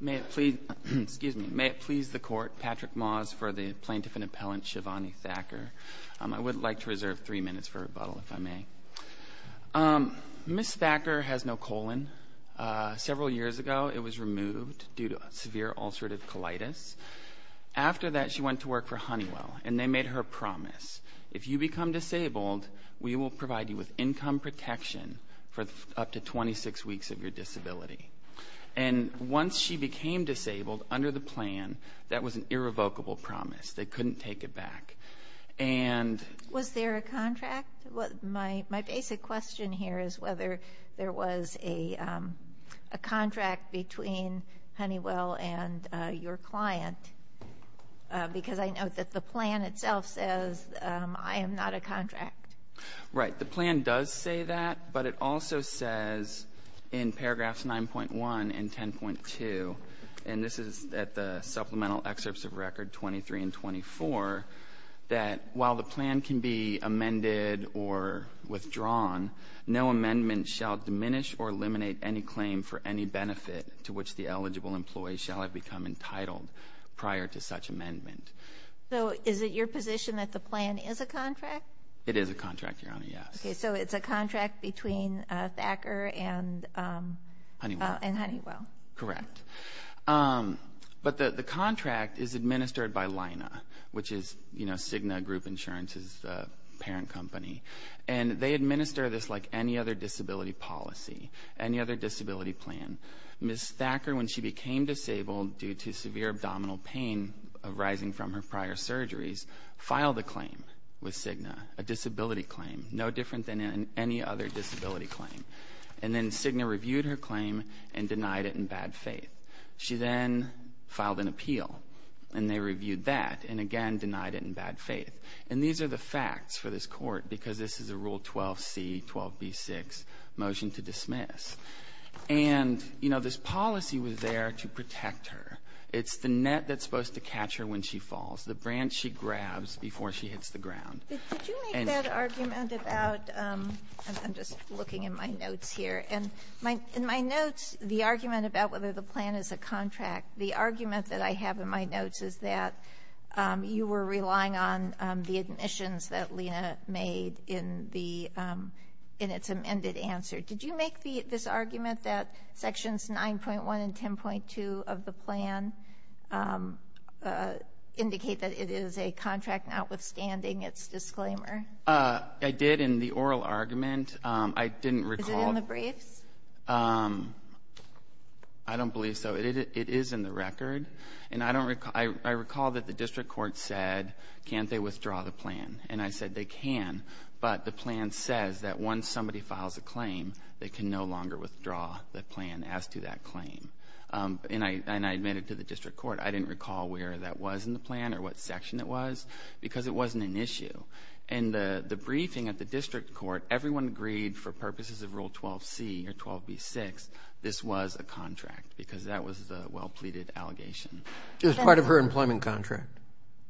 May it please the Court, Patrick Moss for the Plaintiff and Appellant Shivani Thakkar. I would like to reserve three minutes for rebuttal, if I may. Ms. Thakkar has no colon. Several years ago, it was removed due to severe ulcerative colitis. After that, she went to work for Honeywell, and they made her promise, if you become disabled, we will provide you with income protection for up to 26 weeks of your disability. And once she became disabled, under the plan, that was an irrevocable promise. They couldn't take it back. Was there a contract? My basic question here is whether there was a contract between Honeywell and your client, because I know that the plan itself says, I am not a contract. Right. The plan does say that, but it also says in paragraphs 9.1 and 10.2, and this is at the supplemental excerpts of record 23 and 24, that while the plan can be amended or withdrawn, no amendment shall diminish or eliminate any claim for any benefit to which the eligible employee shall have become entitled prior to such amendment. It is a contract, Your Honor, yes. So it's a contract between Thakkar and Honeywell. Correct. But the contract is administered by Lina, which is Cigna Group Insurance's parent company, and they administer this like any other disability policy, any other disability plan. Ms. Thakkar, when she became disabled due to severe abdominal pain arising from her prior surgeries, filed a claim with Cigna, a disability claim, no different than any other disability claim. And then Cigna reviewed her claim and denied it in bad faith. She then filed an appeal, and they reviewed that and again denied it in bad faith. And these are the facts for this Court, because this is a Rule 12c, 12b-6 motion to dismiss. And, you know, this policy was there to protect her. It's the net that's supposed to catch her when she falls. It's the branch she grabs before she hits the ground. Did you make that argument about — I'm just looking in my notes here. In my notes, the argument about whether the plan is a contract, the argument that I have in my notes is that you were relying on the admissions that Lina made in the — in its amended answer. Did you make this argument that sections 9.1 and 10.2 of the plan indicate that it is a contract notwithstanding its disclaimer? I did in the oral argument. I didn't recall — Is it in the briefs? I don't believe so. It is in the record. And I don't — I recall that the district court said, can't they withdraw the plan? And I said they can. But the plan says that once somebody files a claim, they can no longer withdraw the plan as to that claim. And I — and I admitted to the district court, I didn't recall where that was in the plan or what section it was, because it wasn't an issue. And the briefing at the district court, everyone agreed for purposes of Rule 12c or 12b-6 this was a contract, because that was the well-pleaded allegation. Is it part of her employment contract?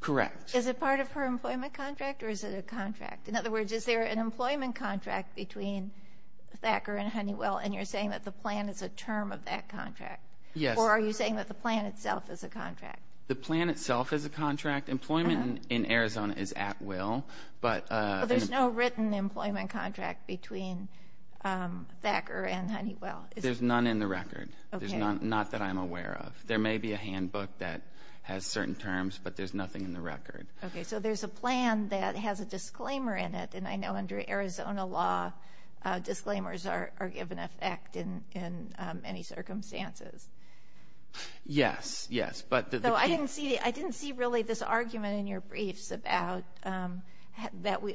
Correct. Is it part of her employment contract, or is it a contract? In other words, is there an employment contract between Thacker and Honeywell, and you're saying that the plan is a term of that contract? Yes. Or are you saying that the plan itself is a contract? The plan itself is a contract. Employment in Arizona is at will. But — But there's no written employment contract between Thacker and Honeywell, is there? There's none in the record. Okay. Not that I'm aware of. There may be a handbook that has certain terms, but there's nothing in the record. Okay. So there's a plan that has a disclaimer in it, and I know under Arizona law, disclaimers are given effect in many circumstances. Yes. Yes. But the key — Though I didn't see really this argument in your briefs about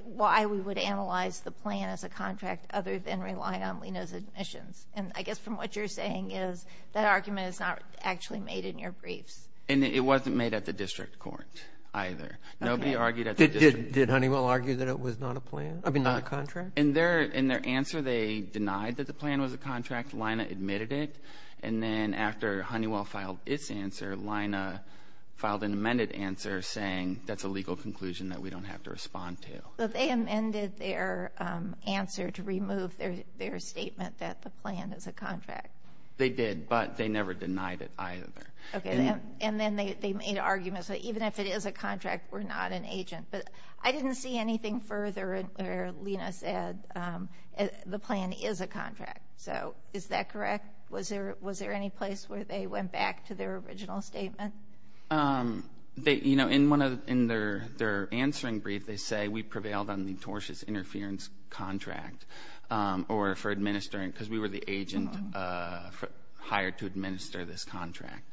why we would analyze the plan as a contract other than relying on Lena's admissions. And I guess from what you're saying is that argument is not actually made in your briefs. And it wasn't made at the district court either. Okay. Nobody argued at the district court. Did Honeywell argue that it was not a plan? I mean, not a contract? In their answer, they denied that the plan was a contract. Lena admitted it. And then after Honeywell filed its answer, Lena filed an amended answer saying that's a legal conclusion that we don't have to respond to. So they amended their answer to remove their statement that the plan is a contract. They did, but they never denied it either. Okay. And then they made arguments that even if it is a contract, we're not an agent. But I didn't see anything further where Lena said the plan is a contract. So is that correct? Was there any place where they went back to their original statement? They, you know, in one of their answering brief, they say we prevailed on the tortious interference contract or for administering, because we were the agent hired to administer this contract.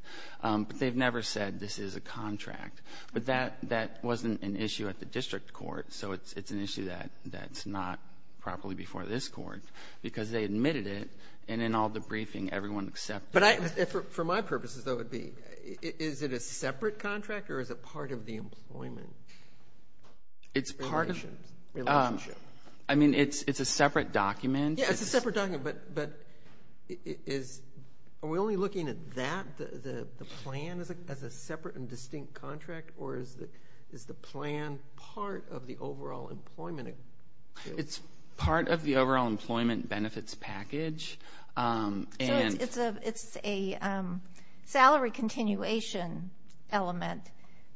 But they've never said this is a contract. But that wasn't an issue at the district court. So it's an issue that's not properly before this Court, because they admitted it, and in all the briefing, everyone accepted it. For my purposes, though, it would be, is it a separate contract or is it part of the employment relationship? I mean, it's a separate document. Yeah, it's a separate document, but are we only looking at that, the plan, as a separate and distinct contract, or is the plan part of the overall employment? It's part of the overall employment benefits package. So it's a salary continuation element,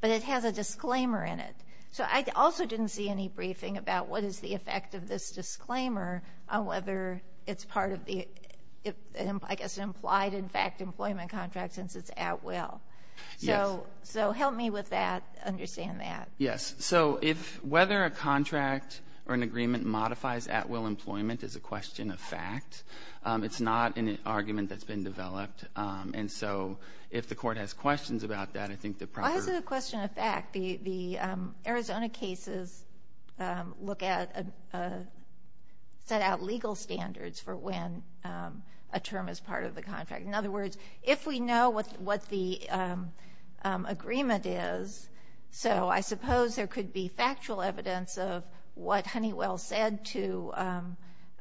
but it has a disclaimer in it. So I also didn't see any briefing about what is the effect of this disclaimer on whether it's part of the, I guess, implied in fact employment contract since it's at will. Yes. So help me with that, understand that. Yes. So whether a contract or an agreement modifies at will employment is a question of fact. It's not an argument that's been developed. And so if the Court has questions about that, I think the proper ---- Why is it a question of fact? The Arizona cases look at, set out legal standards for when a term is part of the contract. In other words, if we know what the agreement is, so I suppose there could be factual evidence of what Honeywell said to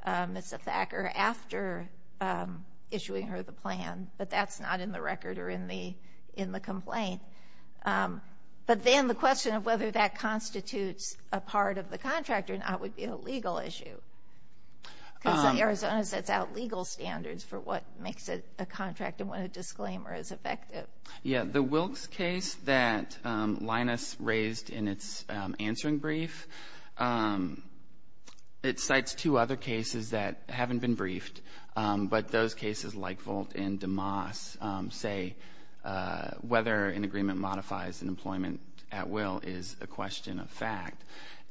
Ms. Thacker after issuing her the plan, but that's not in the record or in the complaint. But then the question of whether that constitutes a part of the contract or not would be a legal issue. Because Arizona sets out legal standards for what makes a contract and what a disclaimer as effective. Yes. The Wilkes case that Linus raised in its answering brief, it cites two other cases that haven't been briefed, but those cases like Volt and DeMoss say whether an agreement modifies employment at will is a question of fact.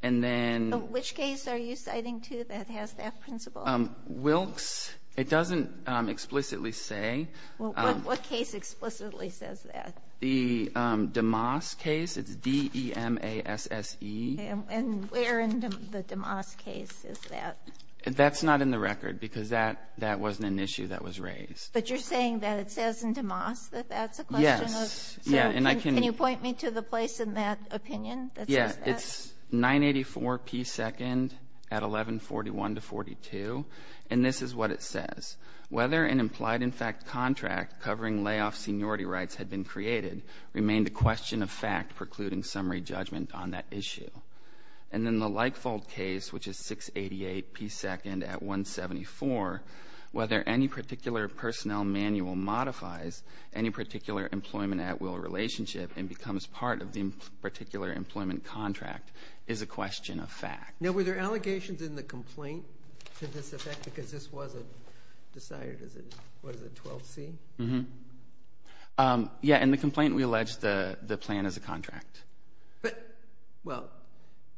And then ---- So which case are you citing, too, that has that principle? Wilkes. It doesn't explicitly say. Well, what case explicitly says that? The DeMoss case. It's D-E-M-A-S-S-E. And where in the DeMoss case is that? That's not in the record because that wasn't an issue that was raised. But you're saying that it says in DeMoss that that's a question of ---- And I can ---- Can you point me to the place in that opinion that says that? Yes. It's 984P2nd at 1141-42. And this is what it says. Whether an implied-in-fact contract covering layoff seniority rights had been created remained a question of fact precluding summary judgment on that issue. And in the Leifold case, which is 688P2nd at 174, whether any particular personnel manual modifies any particular employment at will relationship and becomes part of the particular employment contract is a question of fact. Now, were there allegations in the complaint to this effect because this wasn't decided? Was it 12C? Yes. In the complaint, we alleged the plan as a contract. But, well,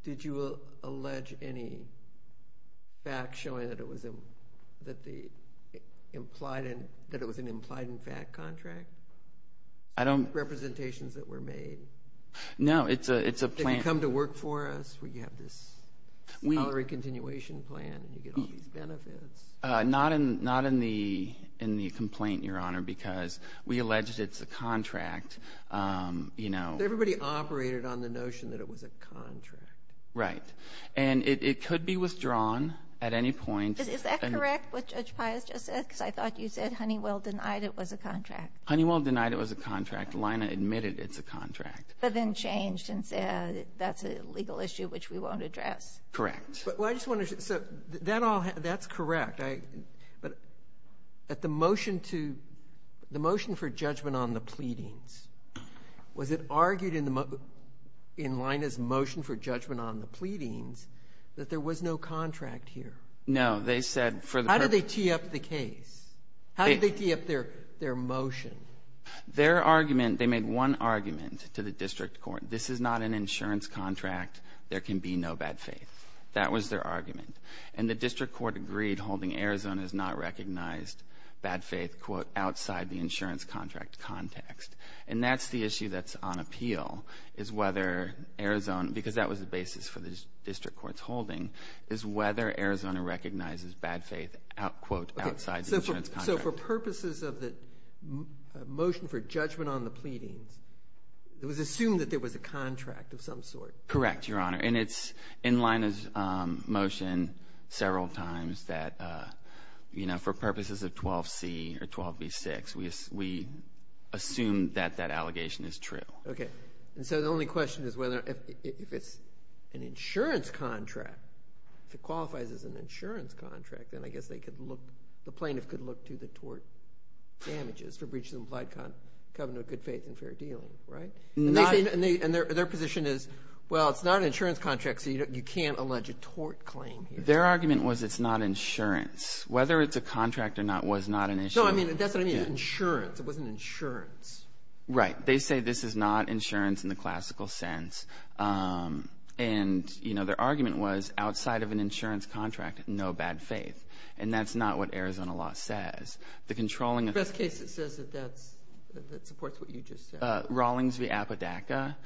did you allege any fact showing that it was an implied-in-fact contract? I don't ---- Representations that were made? No. It's a plan ---- Did you come to work for us? We have this salary continuation plan, and you get all these benefits. Not in the complaint, Your Honor, because we alleged it's a contract. You know ---- Everybody operated on the notion that it was a contract. Right. And it could be withdrawn at any point. Because I thought you said Honeywell denied it was a contract. Honeywell denied it was a contract. Lina admitted it's a contract. But then changed and said that's a legal issue which we won't address. Correct. Well, I just want to ---- so that all ---- that's correct. But at the motion to ---- the motion for judgment on the pleadings, was it argued in the ---- in Lina's motion for judgment on the pleadings that there was no contract here? No. They said for the purpose of ---- How did they tee up the case? How did they tee up their motion? Their argument ---- they made one argument to the district court. This is not an insurance contract. There can be no bad faith. That was their argument. And the district court agreed holding Arizona has not recognized bad faith, quote, outside the insurance contract context. And that's the issue that's on appeal, is whether Arizona ---- because that was the basis for the district court's holding, is whether Arizona recognizes bad faith, quote, outside the insurance contract. So for purposes of the motion for judgment on the pleadings, it was assumed that there was a contract of some sort? Correct, Your Honor. And it's in Lina's motion several times that, you know, for purposes of 12C or 12B6, we assume that that allegation is true. Okay. And so the only question is whether ---- if it's an insurance contract, if it qualifies as an insurance contract, then I guess they could look ---- the plaintiff could look to the tort damages for breaches of implied covenant of good faith and fair dealing, right? And their position is, well, it's not an insurance contract, so you can't allege a tort claim here. Their argument was it's not insurance. Whether it's a contract or not was not an issue. No, I mean, that's what I mean. It's insurance. It wasn't insurance. Right. They say this is not insurance in the classical sense. And, you know, their argument was outside of an insurance contract, no bad faith. And that's not what Arizona law says. The controlling of ---- The best case that says that that's ---- that supports what you just said. Rawlings v. Apodaca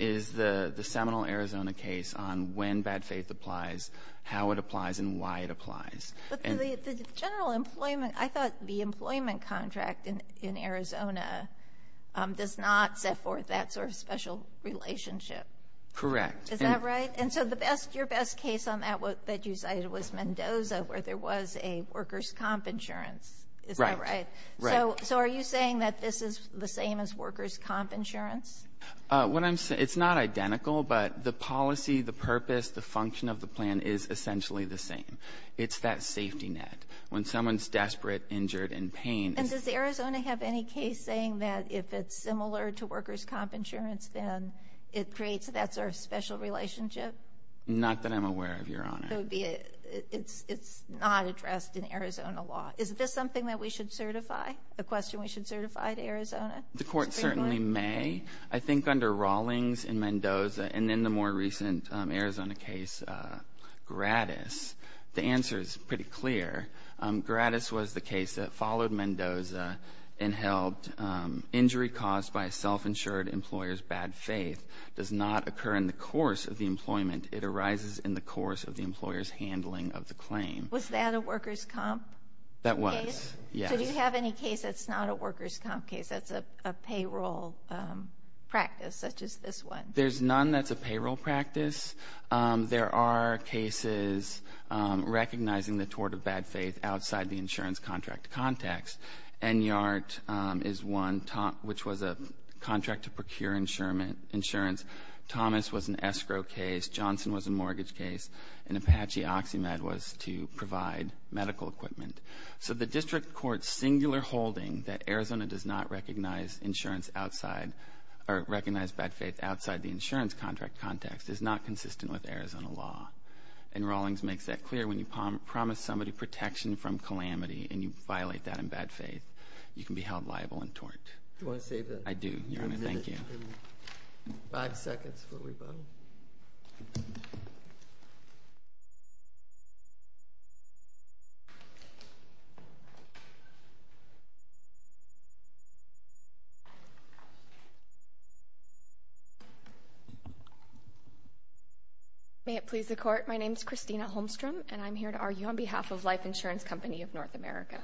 is the seminal Arizona case on when bad faith applies, how it applies, and why it applies. But the general employment ---- I thought the employment contract in Arizona does not set forth that sort of special relationship. Correct. Is that right? And so the best ---- your best case on that that you cited was Mendoza, where there was a workers' comp insurance. Right. Is that right? Right. So are you saying that this is the same as workers' comp insurance? What I'm ---- it's not identical, but the policy, the purpose, the function of the plan is essentially the same. It's that safety net. When someone's desperate, injured, in pain ---- And does Arizona have any case saying that if it's similar to workers' comp insurance, then it creates that sort of special relationship? Not that I'm aware of, Your Honor. It would be a ---- it's not addressed in Arizona law. Is this something that we should certify, a question we should certify to Arizona? The Court certainly may. I think under Rawlings and Mendoza and in the more recent Arizona case, Grattis, the answer is pretty clear. Grattis was the case that followed Mendoza and held injury caused by a self-insured employer's bad faith does not occur in the course of the employment. It arises in the course of the employer's handling of the claim. Was that a workers' comp case? That was, yes. So do you have any case that's not a workers' comp case, that's a payroll practice, such as this one? There's none that's a payroll practice. There are cases recognizing the tort of bad faith outside the insurance contract context. ENYART is one, which was a contract to procure insurance. Thomas was an escrow case. Johnson was a mortgage case. And Apache OxyMed was to provide medical equipment. So the district court's singular holding that Arizona does not recognize insurance bad faith outside the insurance contract context is not consistent with Arizona law. And Rawlings makes that clear. When you promise somebody protection from calamity and you violate that in bad faith, you can be held liable in tort. Do you want to save that? I do, Your Honor. Thank you. Five seconds before we vote. May it please the Court. My name is Christina Holmstrom, and I'm here to argue on behalf of Life Insurance Company of North America.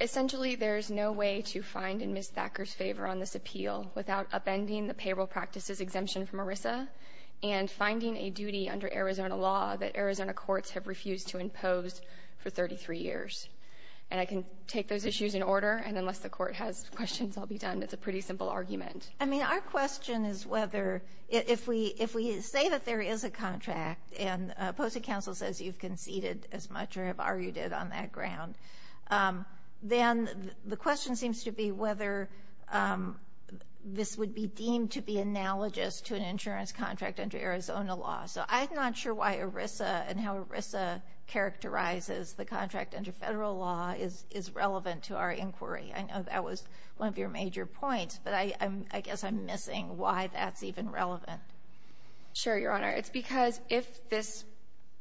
Essentially, there is no way to find in Ms. Thacker's favor on this appeal without upending the payroll practice's exemption from ERISA and finding a duty under Arizona law that Arizona courts have refused to impose for 33 years. And I can take those issues in order, and unless the Court has questions, I'll be done. It's a pretty simple argument. I mean, our question is whether, if we say that there is a contract and a posted counsel says you've conceded as much or have argued it on that ground, then the question seems to be whether this would be deemed to be analogous to an insurance contract under Arizona law. So I'm not sure why ERISA and how ERISA characterizes the contract under federal law is relevant to our inquiry. I know that was one of your major points, but I guess I'm missing why that's even relevant. Sure, Your Honor. It's because if this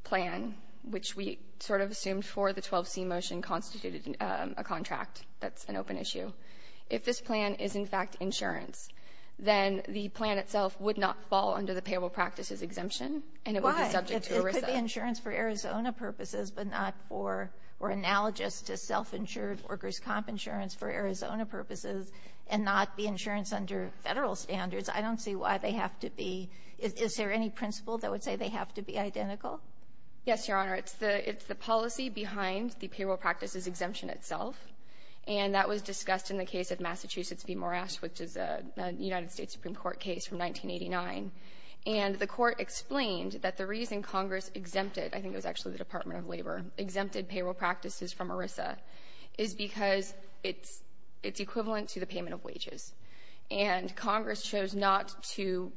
plan, which we sort of assumed for the 12C motion, constituted a contract that's an open issue, if this plan is, in fact, insurance, then the plan itself would not fall under the payroll practices exemption and it would be subject to ERISA. Why? It could be insurance for Arizona purposes, but not for or analogous to self-insured workers' comp insurance for Arizona purposes and not be insurance under Federal standards. I don't see why they have to be. Is there any principle that would say they have to be identical? Yes, Your Honor. It's the policy behind the payroll practices exemption itself, and that was discussed in the case of Massachusetts v. Moresh, which is a United States Supreme Court case from 1989. And the Court explained that the reason Congress exempted, I think it was actually the Department of Labor, exempted payroll practices from ERISA is because it's equivalent to the payment of wages. And Congress chose not to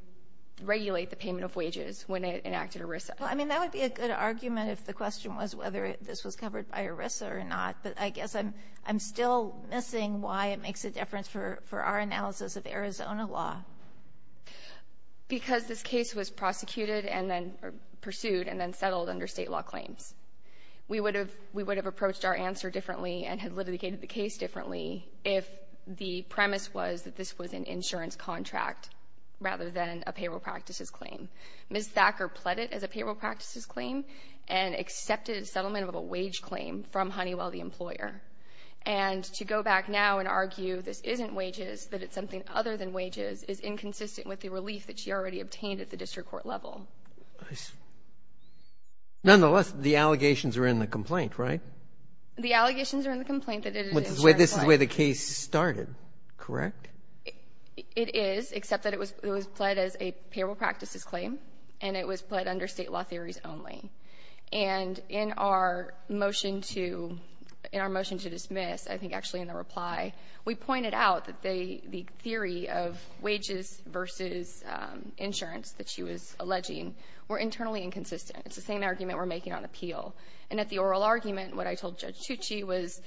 regulate the payment of wages when it enacted ERISA. Well, I mean, that would be a good argument if the question was whether this was covered by ERISA or not. But I guess I'm still missing why it makes a difference for our analysis of Arizona law. Because this case was prosecuted and then pursued and then settled under State law claims. We would have approached our answer differently and had litigated the case differently if the premise was that this was an insurance contract rather than a payroll practices claim. Ms. Thacker pled it as a payroll practices claim and accepted a settlement of a wage claim from Honeywell, the employer. And to go back now and argue this isn't wages, that it's something other than wages, is inconsistent with the relief that she already obtained at the district court level. Nonetheless, the allegations are in the complaint, right? The allegations are in the complaint that it is an insurance claim. This is where the case started, correct? It is, except that it was pled as a payroll practices claim and it was pled under State law theories only. And in our motion to dismiss, I think actually in the reply, we pointed out that the theory of wages versus insurance that she was alleging were internally inconsistent. It's the same argument we're making on appeal. And at the oral argument, what I told Judge Tucci was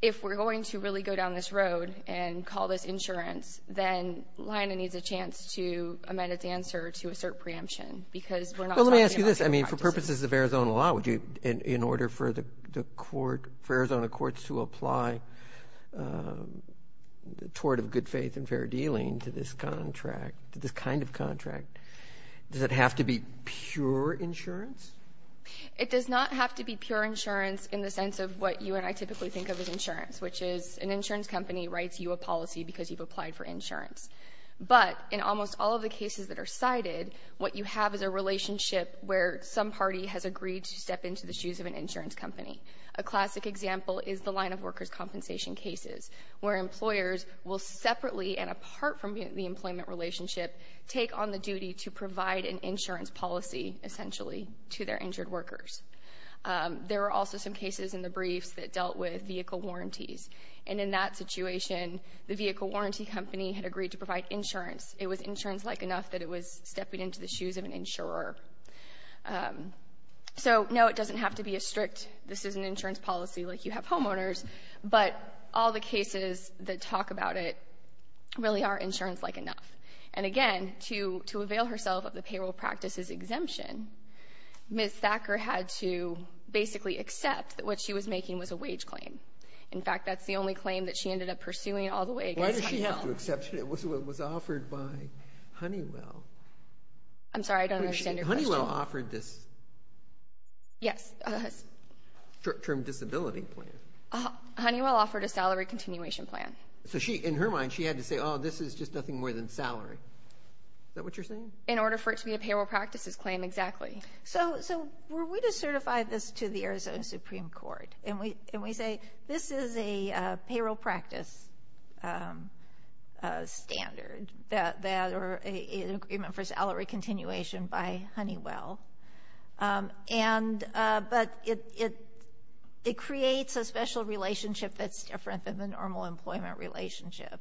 if we're going to really go down this road and call this insurance, then LIONA needs a chance to amend its answer to assert preemption because we're not talking about the practice. Roberts. Well, let me ask you this. I mean, for purposes of Arizona law, would you, in order for the court, for Arizona courts to apply the tort of good faith and fair dealing to this contract, to this kind of contract, does it have to be pure insurance? It does not have to be pure insurance in the sense of what you and I typically think of as insurance, which is an insurance company writes you a policy because you've applied for insurance. But in almost all of the cases that are cited, what you have is a relationship where some party has agreed to step into the shoes of an insurance company. A classic example is the line of workers' compensation cases, where employers will separately and apart from the employment relationship take on the duty to provide an insurance policy, essentially, to their injured workers. There are also some cases in the briefs that dealt with vehicle warranties. And in that situation, the vehicle warranty company had agreed to provide insurance. It was insurance-like enough that it was stepping into the shoes of an insurer. So, no, it doesn't have to be as strict. This is an insurance policy like you have homeowners. But all the cases that talk about it really are not. So, again, to avail herself of the payroll practice's exemption, Ms. Thacker had to basically accept that what she was making was a wage claim. In fact, that's the only claim that she ended up pursuing all the way against Honeywell. Why did she have to accept it? It was offered by Honeywell. I'm sorry. I don't understand your question. Honeywell offered this short-term disability plan. Honeywell offered a salary continuation plan. So, in her mind, she had to say, oh, this is just nothing more than salary. Is that what you're saying? In order for it to be a payroll practice's claim, exactly. So, were we to certify this to the Arizona Supreme Court and we say, this is a payroll practice standard or an agreement for salary continuation by Honeywell, and but it creates a special relationship that's different than the normal employment relationship,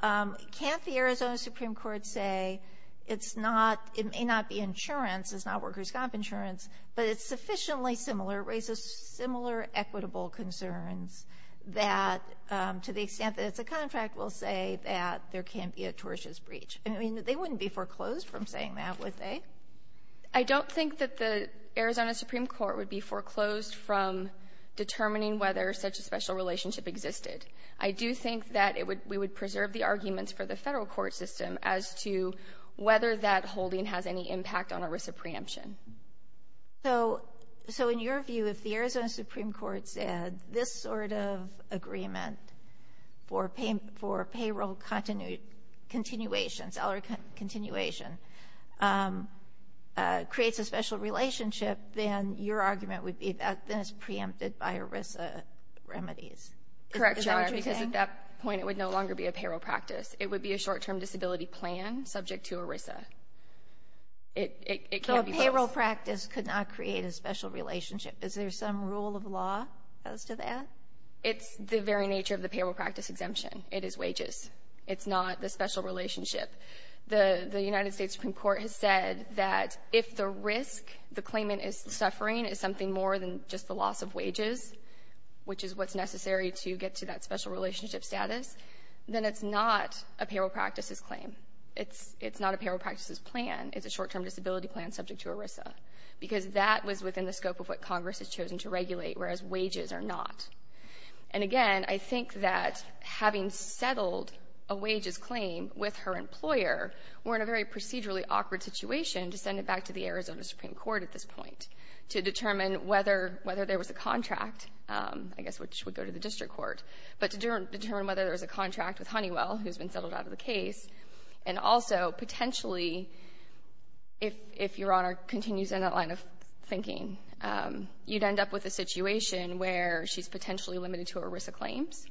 can't the Arizona Supreme Court say it's not, it may not be insurance, it's not workers' comp insurance, but it's sufficiently similar, raises similar equitable concerns that to the extent that it's a contract, we'll say that there can't be a tortious breach. I mean, they wouldn't be foreclosed from saying that, would they? I don't think that the Arizona Supreme Court would be foreclosed from determining whether such a special relationship existed. I do think that we would preserve the arguments for the federal court system as to whether that holding has any impact on a risk of preemption. So, in your view, if the Arizona Supreme Court said this sort of agreement for payroll continuation, salary continuation, creates a special relationship, then your argument would be that that's preempted by ERISA remedies. Is that what you're saying? Correct, Your Honor, because at that point, it would no longer be a payroll practice. It would be a short-term disability plan subject to ERISA. It can't be closed. So a payroll practice could not create a special relationship. Is there some rule of law as to that? It's the very nature of the payroll practice exemption. It is wages. It's not the special relationship. The United States Supreme Court has said that if the risk the claimant is suffering is something more than just the loss of wages, which is what's necessary to get to that special relationship status, then it's not a payroll practice's claim. It's not a payroll practice's plan. It's a short-term disability plan subject to ERISA, because that was within the scope of what Congress has chosen to regulate, whereas wages are not. And, again, I think that having settled a wages claim with her employer, we're in a very procedurally awkward situation to send it back to the Arizona Supreme Court at this point to determine whether there was a contract, I guess which would go to the district court, but to determine whether there was a contract with Honeywell, who's been settled out of the case, and also potentially, if Your Honor continues in that line of thinking, you'd end up with a situation where she's potentially limited to ERISA claims,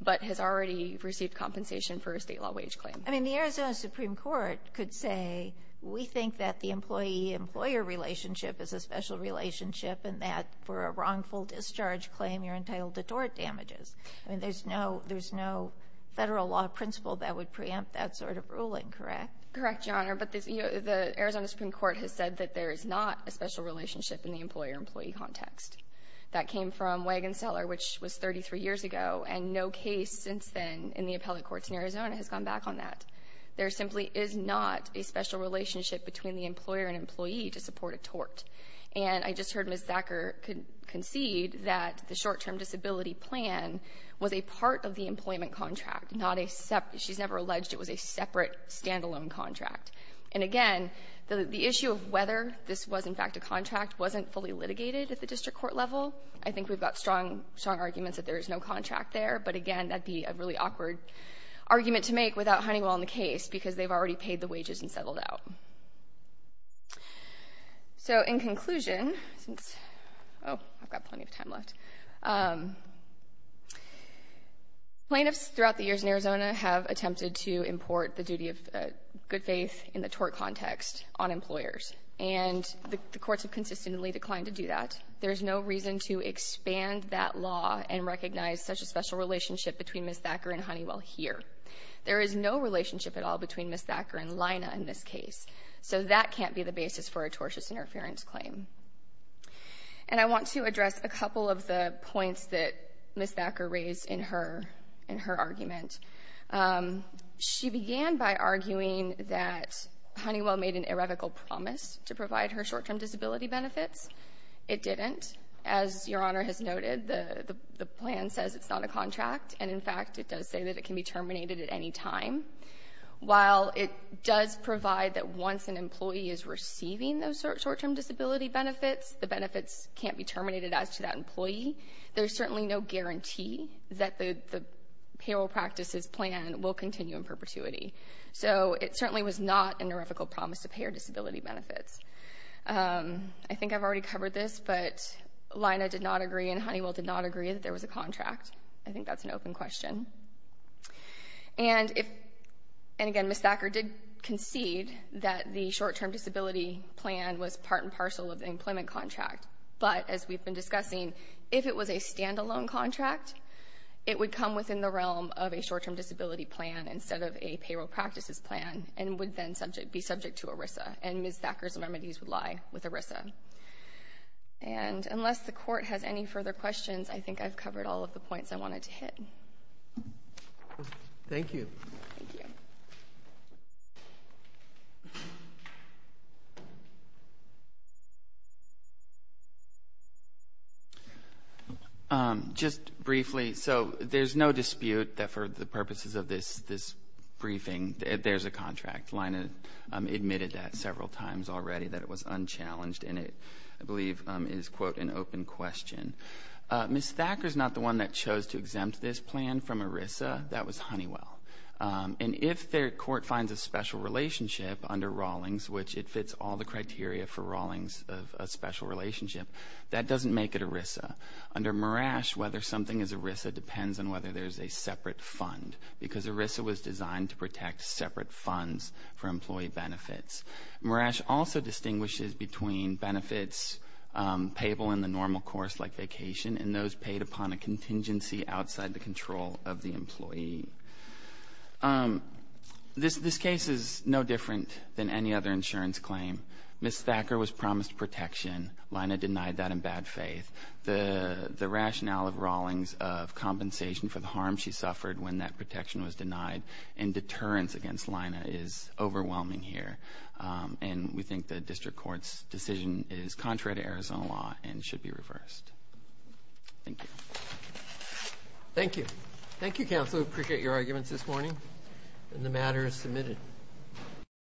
but has already received compensation for a State law wage claim. I mean, the Arizona Supreme Court could say, we think that the employee-employer relationship is a special relationship and that for a wrongful discharge claim, you're entitled to tort damages. I mean, there's no Federal law principle that would preempt that sort of ruling, correct? Correct, Your Honor. But the Arizona Supreme Court has said that there is not a special relationship in the employer-employee context. That came from Wagenseller, which was 33 years ago, and no case since then in the appellate courts in Arizona has gone back on that. There simply is not a special relationship between the employer and employee to support a tort. And I just heard Ms. Thacker concede that the short-term disability plan was a part of the employment contract, not a separate — she's never alleged it was a separate stand-alone contract. And again, the issue of whether this was in fact a contract wasn't fully litigated at the district court level. I think we've got strong arguments that there is no contract there. But again, that would be a really awkward argument to make without Honeywell in the case, because they've already paid the wages and settled out. So in conclusion, since — oh, I've got plenty of time left. Plaintiffs throughout the years in Arizona have attempted to import the duty of good faith in the tort context on employers. And the courts have consistently declined to do that. There is no reason to expand that law and recognize such a special relationship between Ms. Thacker and Honeywell here. There is no relationship at all between Ms. Thacker and Lina in this case. So that can't be the basis for a tortious interference claim. And I want to address a couple of the points that Ms. Thacker raised in her argument. She began by arguing that Honeywell made an irrevocable promise to provide her short-term disability benefits. It didn't. As Your Honor has noted, the plan says it's not a contract. And in fact, it does say that it can be terminated at any time. While it does provide that once an employee is receiving those short-term disability benefits, the benefits can't be terminated as to that employee, there's certainly no guarantee that the payroll practices plan will continue in perpetuity. So it certainly was not an irrevocable promise to pay her disability benefits. I think I've already covered this, but Lina did not agree and Honeywell did not agree that there was a contract. I think that's an open question. And again, Ms. Thacker did concede that the short-term disability plan was part and parcel of the employment contract, but as we've been discussing, if it was a standalone contract, it would come within the realm of a short-term disability plan instead of a payroll practices plan and would then be subject to ERISA. And Ms. Thacker's remedies would lie with ERISA. And unless the court has any further questions, I think I've covered all of the points I wanted to hit. Thank you. Thank you. Just briefly, so there's no dispute that for the purposes of this briefing, there's a contract. Lina admitted that several times already, that it was unchallenged, and it, I believe, is, quote, an open question. Ms. Thacker's not the one that chose to exempt this plan from ERISA. That was Honeywell. And if their court finds a special relationship under Rawlings, which it fits all the criteria for Rawlings of a special relationship, that doesn't make it ERISA. Under Marash, whether something is ERISA depends on whether there's a separate fund, because ERISA was designed to protect separate funds for employee benefits. Marash also distinguishes between benefits payable in the normal course, like vacation, and those paid upon a contingency outside the control of the employee. This case is no different than any other insurance claim. Ms. Thacker was promised protection. Lina denied that in bad faith. The rationale of Rawlings of compensation for the harm she suffered when that protection was denied and deterrence against Lina is overwhelming here. And we think the district court's decision is contrary to Arizona law and should be reversed. Thank you. Thank you. Thank you, counsel. We appreciate your arguments this morning. And the matter is submitted.